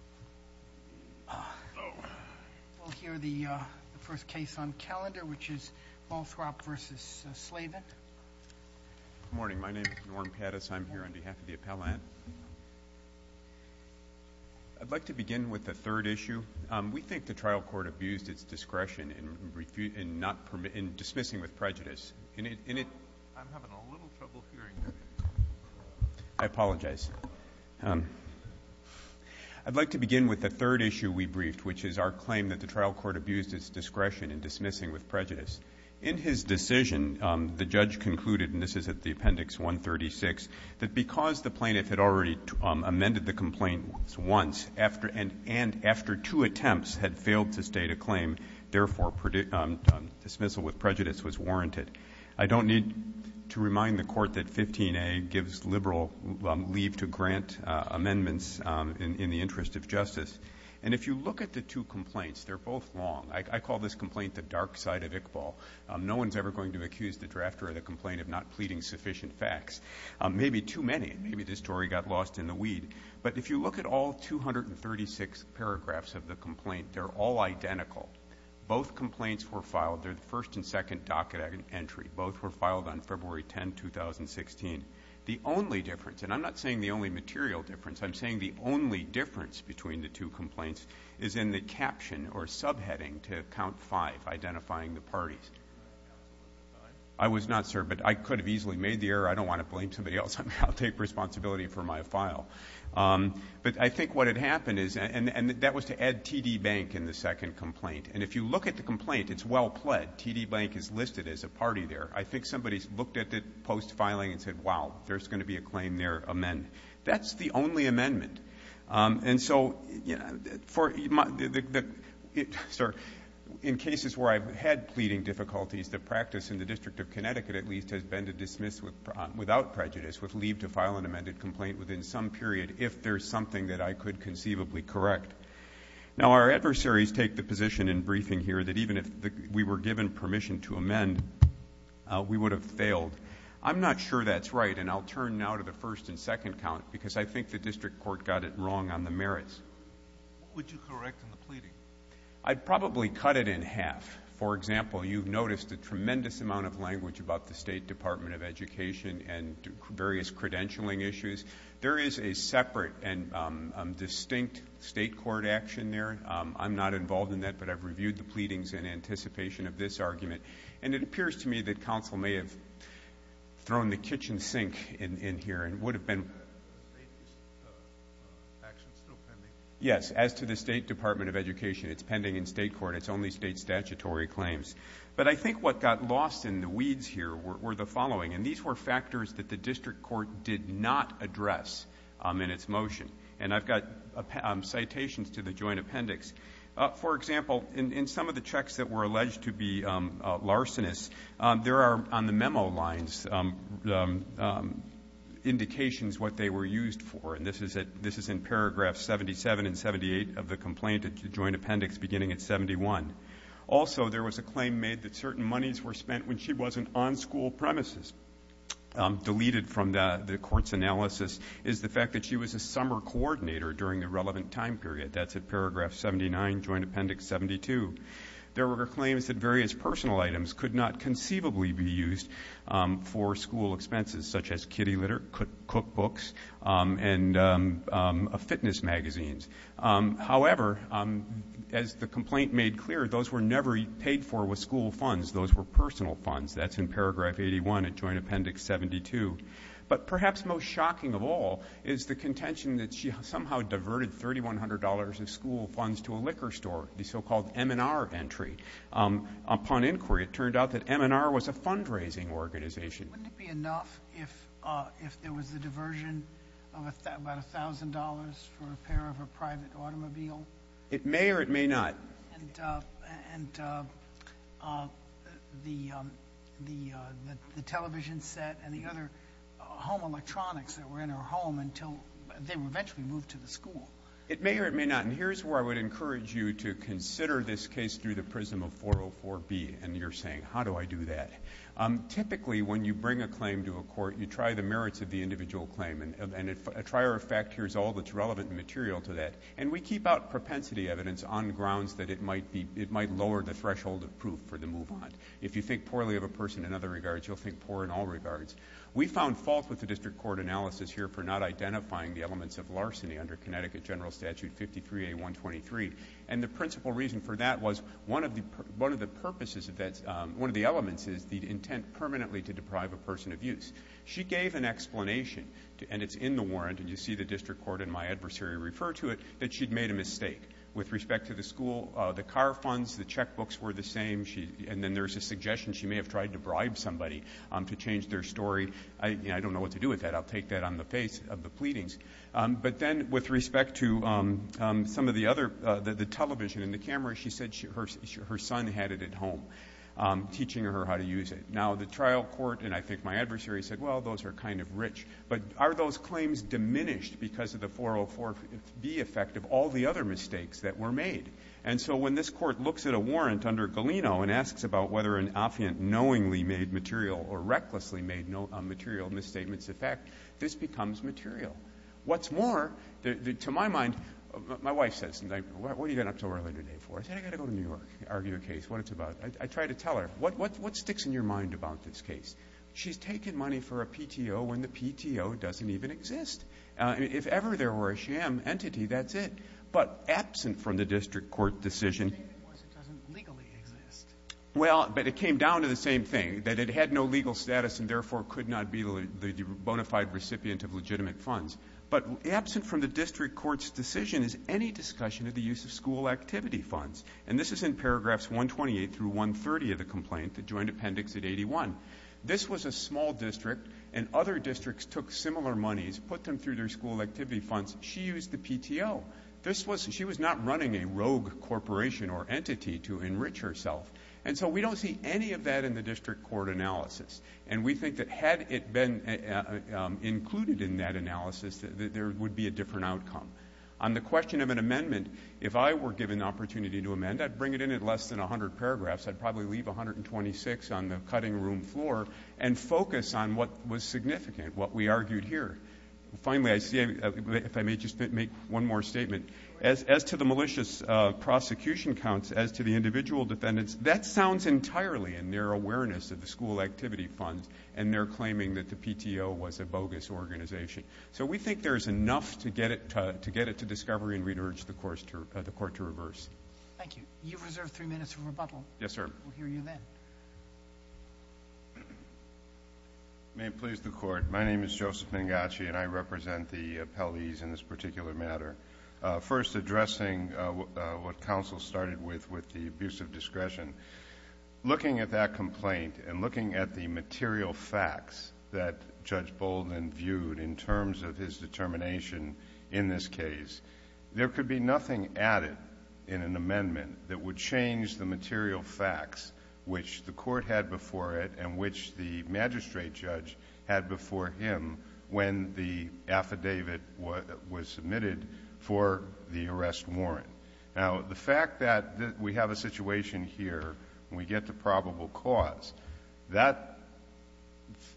Good morning. My name is Norm Pettis. I'm here on behalf of the appellant. I'd like to begin with the third issue. We think the trial court abused its discretion in dismissing with prejudice. In his decision, the judge concluded, and this is at the Appendix 136, that because the plaintiff had already amended the complaint once, and after two attempts had failed to state a claim, therefore, dismissal with prejudice was warranted. I don't need to remind the court that 15A gives liberal leave to grant amendments in the interest of justice. And if you look at the two complaints, they're both wrong. I call this complaint the dark side of Iqbal. No one's ever going to accuse the drafter of the complaint of not pleading sufficient facts. Maybe too many. Maybe this story got lost in the weed. But if you look at all 236 paragraphs of the complaint, they're all identical. Both complaints were filed. They're the first and second docket entry. Both were filed on February 10, 2016. The only difference, and I'm not saying the only material difference, I'm saying the only difference between the two complaints is in the caption or subheading to count five, identifying the parties. I was not served, but I could have easily made the error. I don't want to blame somebody else. I'll take responsibility for my file. But I think what had happened is, and that was to add T.D. Bank in the second complaint. And if you look at the complaint, it's well pled. T.D. Bank is listed as a party there. I think somebody's looked at it post-filing and said, wow, there's going to be a claim there amended. That's the only amendment. And so, you know, in cases where I've had pleading difficulties, the practice in the District of Connecticut at least has been to dismiss without prejudice with leave to file an amended complaint within some period if there's something that I could conceivably correct. Now, our adversaries take the position in briefing here that even if we were given permission to amend, we would have failed. I'm not sure that's right, and I'll turn now to the first and second count because I think the district court got it wrong on the merits. What would you correct in the pleading? I'd probably cut it in half. For example, you've noticed a tremendous amount of language about the State Department of Education and various credentialing issues. There is a separate and distinct state court action there. I'm not involved in that, but I've reviewed the pleadings in anticipation of this argument. And it appears to me that counsel may have thrown the kitchen sink in here and would have been ---- Is the action still pending? Yes. As to the State Department of Education, it's pending in state court. It's only state statutory claims. But I think what got lost in the weeds here were the following, and these were factors that the district court did not address in its motion. And I've got citations to the joint appendix. For example, in some of the checks that were alleged to be larcenous, there are on the memo lines indications what they were used for, and this is in paragraph 77 and 78 of the complaint, the joint appendix beginning at 71. Also, there was a claim made that certain monies were spent when she wasn't on school premises. Deleted from the court's analysis is the fact that she was a summer coordinator during the relevant time period. That's at paragraph 79, joint appendix 72. There were claims that various personal items could not conceivably be used for school expenses, such as kitty litter, cookbooks, and fitness magazines. However, as the complaint made clear, those were never paid for with school funds. Those were personal funds. That's in paragraph 81 of joint appendix 72. But perhaps most shocking of all is the contention that she somehow diverted $3,100 of school funds to a liquor store, the so-called M&R entry. Upon inquiry, it turned out that M&R was a fundraising organization. Wouldn't it be enough if there was a diversion of about $1,000 for a pair of a private automobile? It may or it may not. And the television set and the other home electronics that were in her home until they were eventually moved to the school? It may or it may not. And here's where I would encourage you to consider this case through the prism of 404B. And you're saying, how do I do that? Typically, when you bring a claim to a court, you try the merits of the individual claim. And a trier of fact here is all that's relevant and material to that. And we keep out propensity evidence on grounds that it might lower the threshold of proof for the move on. If you think poorly of a person in other regards, you'll think poor in all regards. We found fault with the district court analysis here for not identifying the elements of larceny under Connecticut General Statute 53A.123. And the principal reason for that was one of the purposes of that, one of the elements is the intent permanently to deprive a person of use. She gave an explanation, and it's in the warrant, and you see the district court and my adversary refer to it, that she'd made a mistake. With respect to the school, the car funds, the checkbooks were the same. And then there's a suggestion she may have tried to bribe somebody to change their story. I don't know what to do with that. I'll take that on the face of the pleadings. But then with respect to some of the other, the television and the cameras, she said her son had it at home, teaching her how to use it. Now, the trial court and I think my adversary said, well, those are kind of rich. But are those claims diminished because of the 404B effect of all the other mistakes that were made? And so when this court looks at a warrant under Galeno and asks about whether an affiant knowingly made material or recklessly made material misstatements, in fact, this becomes material. What's more, to my mind, my wife says to me, what are you getting up so early today for? I said, I've got to go to New York to argue a case, what it's about. I try to tell her, what sticks in your mind about this case? She's taking money for a PTO when the PTO doesn't even exist. If ever there were a sham entity, that's it. But absent from the district court decision. The thing was it doesn't legally exist. Well, but it came down to the same thing, that it had no legal status and therefore could not be the bona fide recipient of legitimate funds. But absent from the district court's decision is any discussion of the use of school activity funds. And this is in paragraphs 128 through 130 of the complaint, the joint appendix at 81. This was a small district, and other districts took similar monies, put them through their school activity funds. She used the PTO. She was not running a rogue corporation or entity to enrich herself. And so we don't see any of that in the district court analysis. And we think that had it been included in that analysis, there would be a different outcome. On the question of an amendment, if I were given the opportunity to amend, I'd bring it in at less than 100 paragraphs. I'd probably leave 126 on the cutting room floor and focus on what was significant, what we argued here. Finally, if I may just make one more statement. As to the malicious prosecution counts, as to the individual defendants, that sounds entirely in their awareness of the school activity funds and their claiming that the PTO was a bogus organization. So we think there is enough to get it to discovery and we'd urge the court to reverse. Thank you. You've reserved three minutes for rebuttal. We'll hear you then. May it please the Court. My name is Joseph Mangachi and I represent the appellees in this particular matter. First, addressing what counsel started with, with the abuse of discretion. Looking at that complaint and looking at the material facts that Judge Bolden viewed in terms of his determination in this case, there could be nothing added in an amendment that would change the material facts which the court had before it and which the magistrate judge had before him when the affidavit was submitted for the arrest warrant. Now, the fact that we have a situation here and we get to probable cause,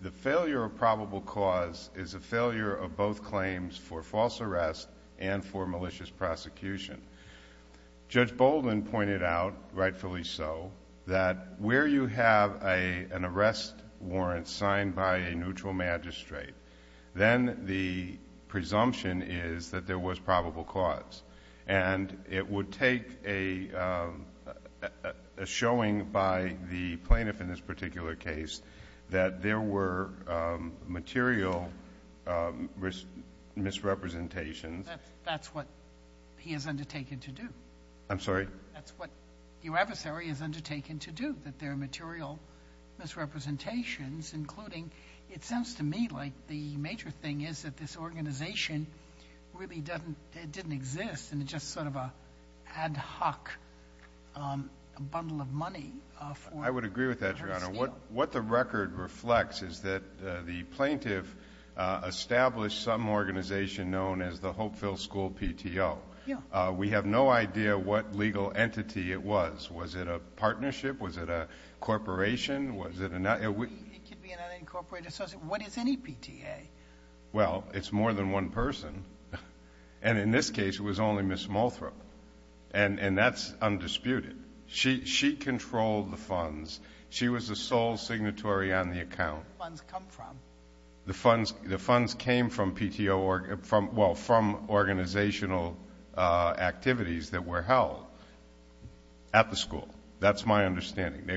the failure of probable cause is a failure of both claims for false arrest and for malicious prosecution. Judge Bolden pointed out, rightfully so, that where you have an arrest warrant signed by a neutral magistrate, then the presumption is that there was probable cause. And it would take a showing by the plaintiff in this particular case that there were material misrepresentations. That's what he has undertaken to do. I'm sorry? That's what your adversary has undertaken to do, that there are material misrepresentations, including it sounds to me like the major thing is that this organization really didn't exist and it's just sort of an ad hoc bundle of money for her to steal. I would agree with that, Your Honor. What the record reflects is that the plaintiff established some organization known as the Hopeville School PTO. We have no idea what legal entity it was. Was it a partnership? Was it a corporation? It could be an unincorporated association. What is any PTA? Well, it's more than one person. And in this case, it was only Ms. Mothra. And that's undisputed. She controlled the funds. She was the sole signatory on the account. Where did the funds come from? The funds came from organizational activities that were held at the school. That's my understanding.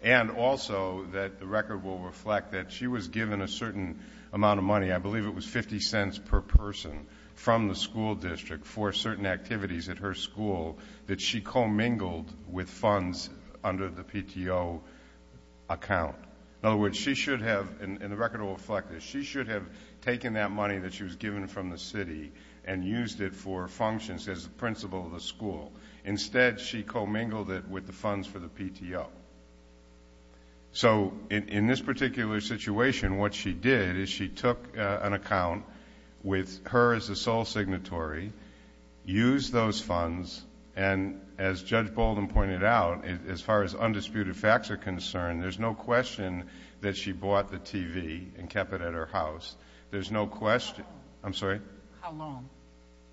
And also the record will reflect that she was given a certain amount of money. I believe it was 50 cents per person from the school district for certain activities at her school that she commingled with funds under the PTO account. In other words, she should have, and the record will reflect this, she should have taken that money that she was given from the city and used it for functions as the principal of the school. Instead, she commingled it with the funds for the PTO. So in this particular situation, what she did is she took an account with her as the sole signatory, used those funds, and as Judge Bolden pointed out, as far as undisputed facts are concerned, there's no question that she bought the TV and kept it at her house. There's no question. I'm sorry? How long?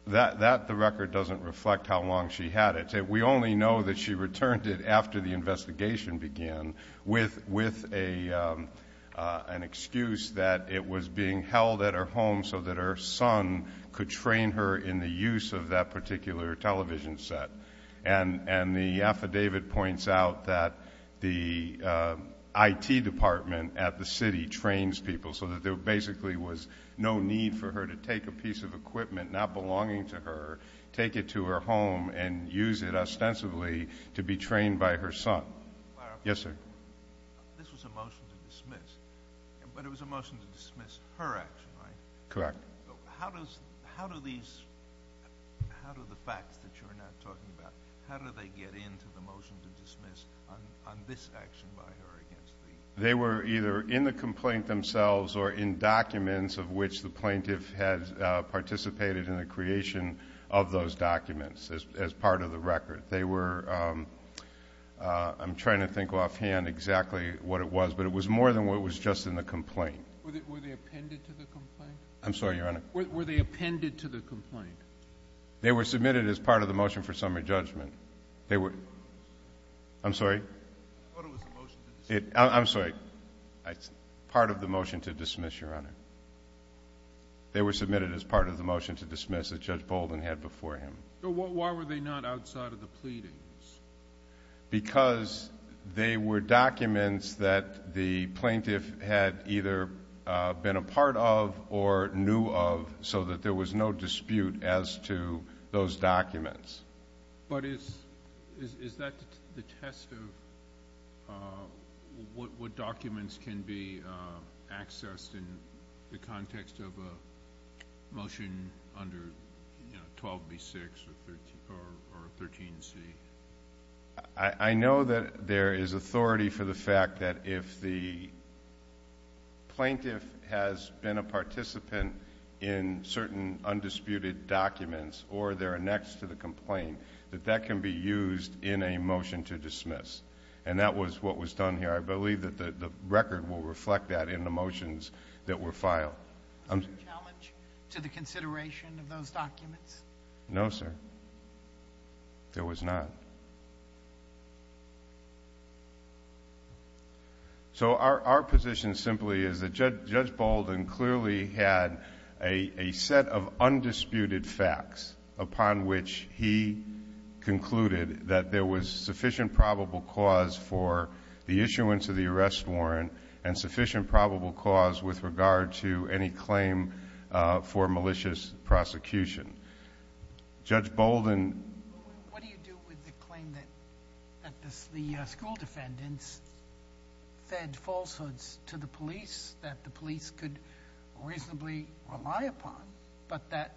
That, the record doesn't reflect how long she had it. We only know that she returned it after the investigation began with an excuse that it was being held at her home so that her son could train her in the use of that particular television set. And the affidavit points out that the IT department at the city trains people so that there basically was no need for her to take a piece of equipment not belonging to her, take it to her home, and use it ostensibly to be trained by her son. Yes, sir? This was a motion to dismiss, but it was a motion to dismiss her action, right? Correct. How do these, how do the facts that you're now talking about, how do they get into the motion to dismiss on this action by her against the… They were either in the complaint themselves or in documents of which the plaintiff had participated in the creation of those documents as part of the record. They were, I'm trying to think offhand exactly what it was, but it was more than what was just in the complaint. Were they appended to the complaint? I'm sorry, Your Honor? Were they appended to the complaint? They were submitted as part of the motion for summary judgment. They were, I'm sorry? I thought it was a motion to dismiss. I'm sorry, part of the motion to dismiss, Your Honor. They were submitted as part of the motion to dismiss that Judge Bolden had before him. Why were they not outside of the pleadings? Because they were documents that the plaintiff had either been a part of or knew of so that there was no dispute as to those documents. But is that the test of what documents can be accessed in the context of a motion under 12b6 or 13c? I know that there is authority for the fact that if the plaintiff has been a participant in certain undisputed documents or they're annexed to the complaint, that that can be used in a motion to dismiss. And that was what was done here. I believe that the record will reflect that in the motions that were filed. Was there a challenge to the consideration of those documents? No, sir. There was not. So our position simply is that Judge Bolden clearly had a set of undisputed facts upon which he concluded that there was sufficient probable cause for the issuance of the arrest warrant and sufficient probable cause with regard to any claim for malicious prosecution. Judge Bolden? What do you do with the claim that the school defendants fed falsehoods to the police that the police could reasonably rely upon but that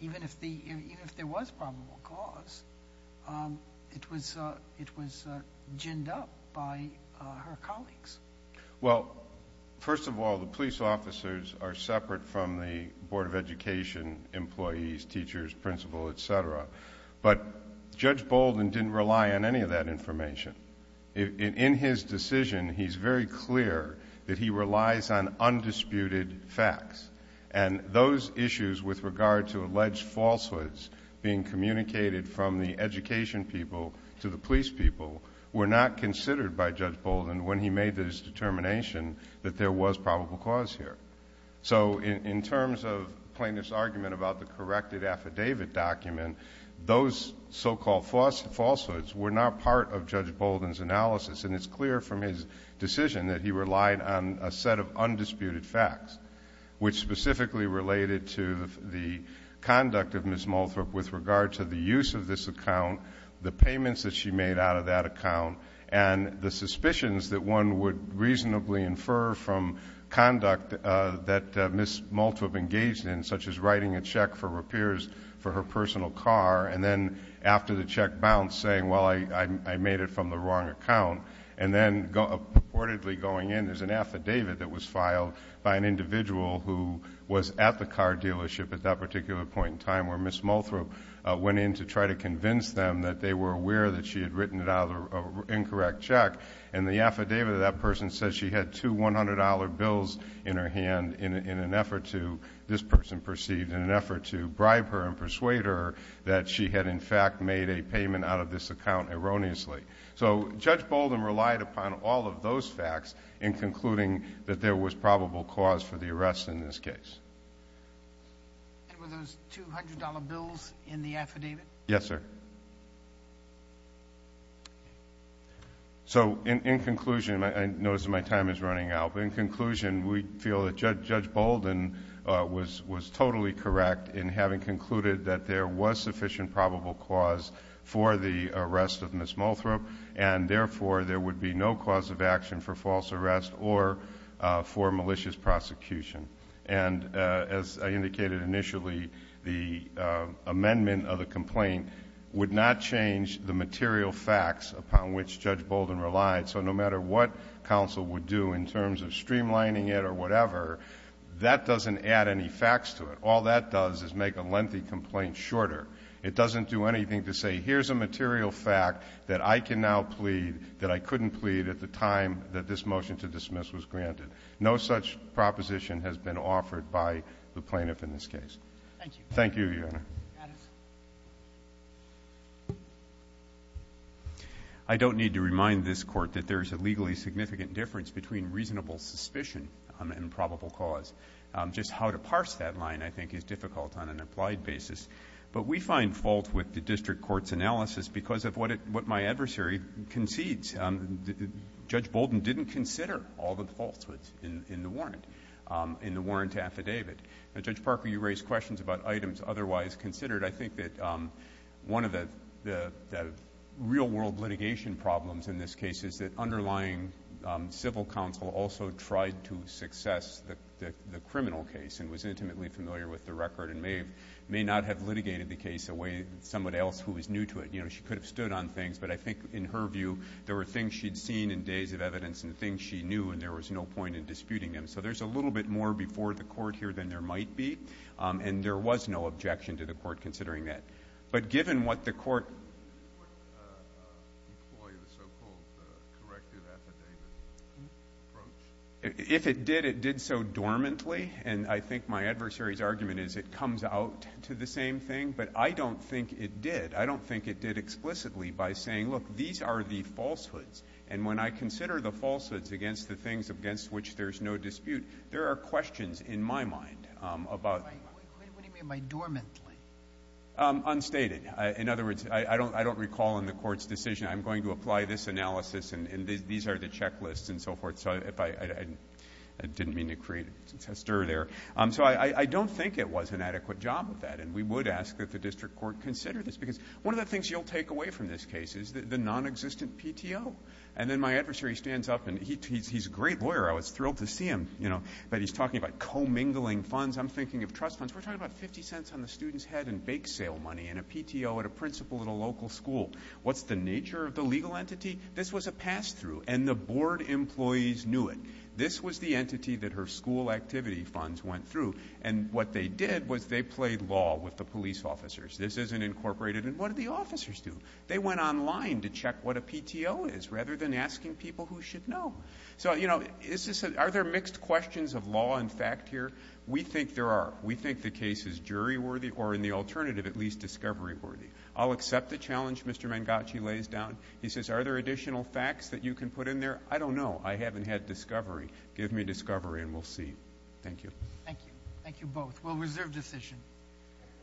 even if there was probable cause, it was ginned up by her colleagues? Well, first of all, the police officers are separate from the Board of Education employees, teachers, principal, et cetera. But Judge Bolden didn't rely on any of that information. In his decision, he's very clear that he relies on undisputed facts. And those issues with regard to alleged falsehoods being communicated from the education people to the police people were not considered by Judge Bolden when he made his determination that there was probable cause here. So in terms of plaintiff's argument about the corrected affidavit document, those so-called falsehoods were not part of Judge Bolden's analysis, and it's clear from his decision that he relied on a set of undisputed facts, which specifically related to the conduct of Ms. Malthrup with regard to the use of this account, the payments that she made out of that account, and the suspicions that one would reasonably infer from conduct that Ms. Malthrup engaged in, such as writing a check for repairs for her personal car and then after the check bounced saying, well, I made it from the wrong account, and then purportedly going in. There's an affidavit that was filed by an individual who was at the car dealership at that particular point in time where Ms. Malthrup went in to try to convince them that they were aware that she had written it out of an incorrect check, and the affidavit of that person says she had two $100 bills in her hand in an effort to, this person perceived, in an effort to bribe her and persuade her that she had, in fact, made a payment out of this account erroneously. So Judge Bolden relied upon all of those facts in concluding that there was probable cause for the arrest in this case. And were those $200 bills in the affidavit? Yes, sir. So in conclusion, I notice my time is running out, but in conclusion, we feel that Judge Bolden was totally correct in having concluded that there was sufficient probable cause for the arrest of Ms. Malthrup, and therefore there would be no cause of action for false arrest or for malicious prosecution. And as I indicated initially, the amendment of the complaint would not change the material facts upon which Judge Bolden relied. So no matter what counsel would do in terms of streamlining it or whatever, that doesn't add any facts to it. All that does is make a lengthy complaint shorter. It doesn't do anything to say here's a material fact that I can now plead that I couldn't plead at the time that this motion to dismiss was granted. No such proposition has been offered by the plaintiff in this case. Thank you. Thank you, Your Honor. I don't need to remind this Court that there is a legally significant difference between reasonable suspicion and probable cause. Just how to parse that line, I think, is difficult on an applied basis. But we find fault with the district court's analysis because of what my adversary concedes. Judge Bolden didn't consider all the falsehoods in the warrant, in the warrant affidavit. Now, Judge Parker, you raised questions about items otherwise considered. I think that one of the real-world litigation problems in this case is that underlying civil counsel also tried to success the criminal case and was intimately familiar with the record and may not have litigated the case the way someone else who was new to it. You know, she could have stood on things. But I think in her view, there were things she'd seen in days of evidence and things she knew, and there was no point in disputing them. So there's a little bit more before the Court here than there might be. And there was no objection to the Court considering that. But given what the Court— If it did, it did so dormantly. And I think my adversary's argument is it comes out to the same thing. But I don't think it did. I don't think it did explicitly by saying, look, these are the falsehoods. And when I consider the falsehoods against the things against which there's no dispute, there are questions in my mind about— What do you mean by dormantly? Unstated. In other words, I don't recall in the Court's decision, I'm going to apply this analysis and these are the checklists and so forth. So I didn't mean to create a stir there. So I don't think it was an adequate job of that. And we would ask that the district court consider this because one of the things you'll take away from this case is the nonexistent PTO. And then my adversary stands up, and he's a great lawyer. I was thrilled to see him. But he's talking about commingling funds. I'm thinking of trust funds. We're talking about 50 cents on the student's head in bake sale money in a PTO at a principal at a local school. What's the nature of the legal entity? This was a pass-through, and the board employees knew it. This was the entity that her school activity funds went through. And what they did was they played law with the police officers. This isn't incorporated. And what did the officers do? They went online to check what a PTO is rather than asking people who should know. So, you know, are there mixed questions of law and fact here? We think there are. We think the case is jury worthy or, in the alternative, at least discovery worthy. I'll accept the challenge Mr. Mangachi lays down. He says, are there additional facts that you can put in there? I don't know. I haven't had discovery. Give me discovery and we'll see. Thank you. Thank you. Thank you both. We'll reserve decision.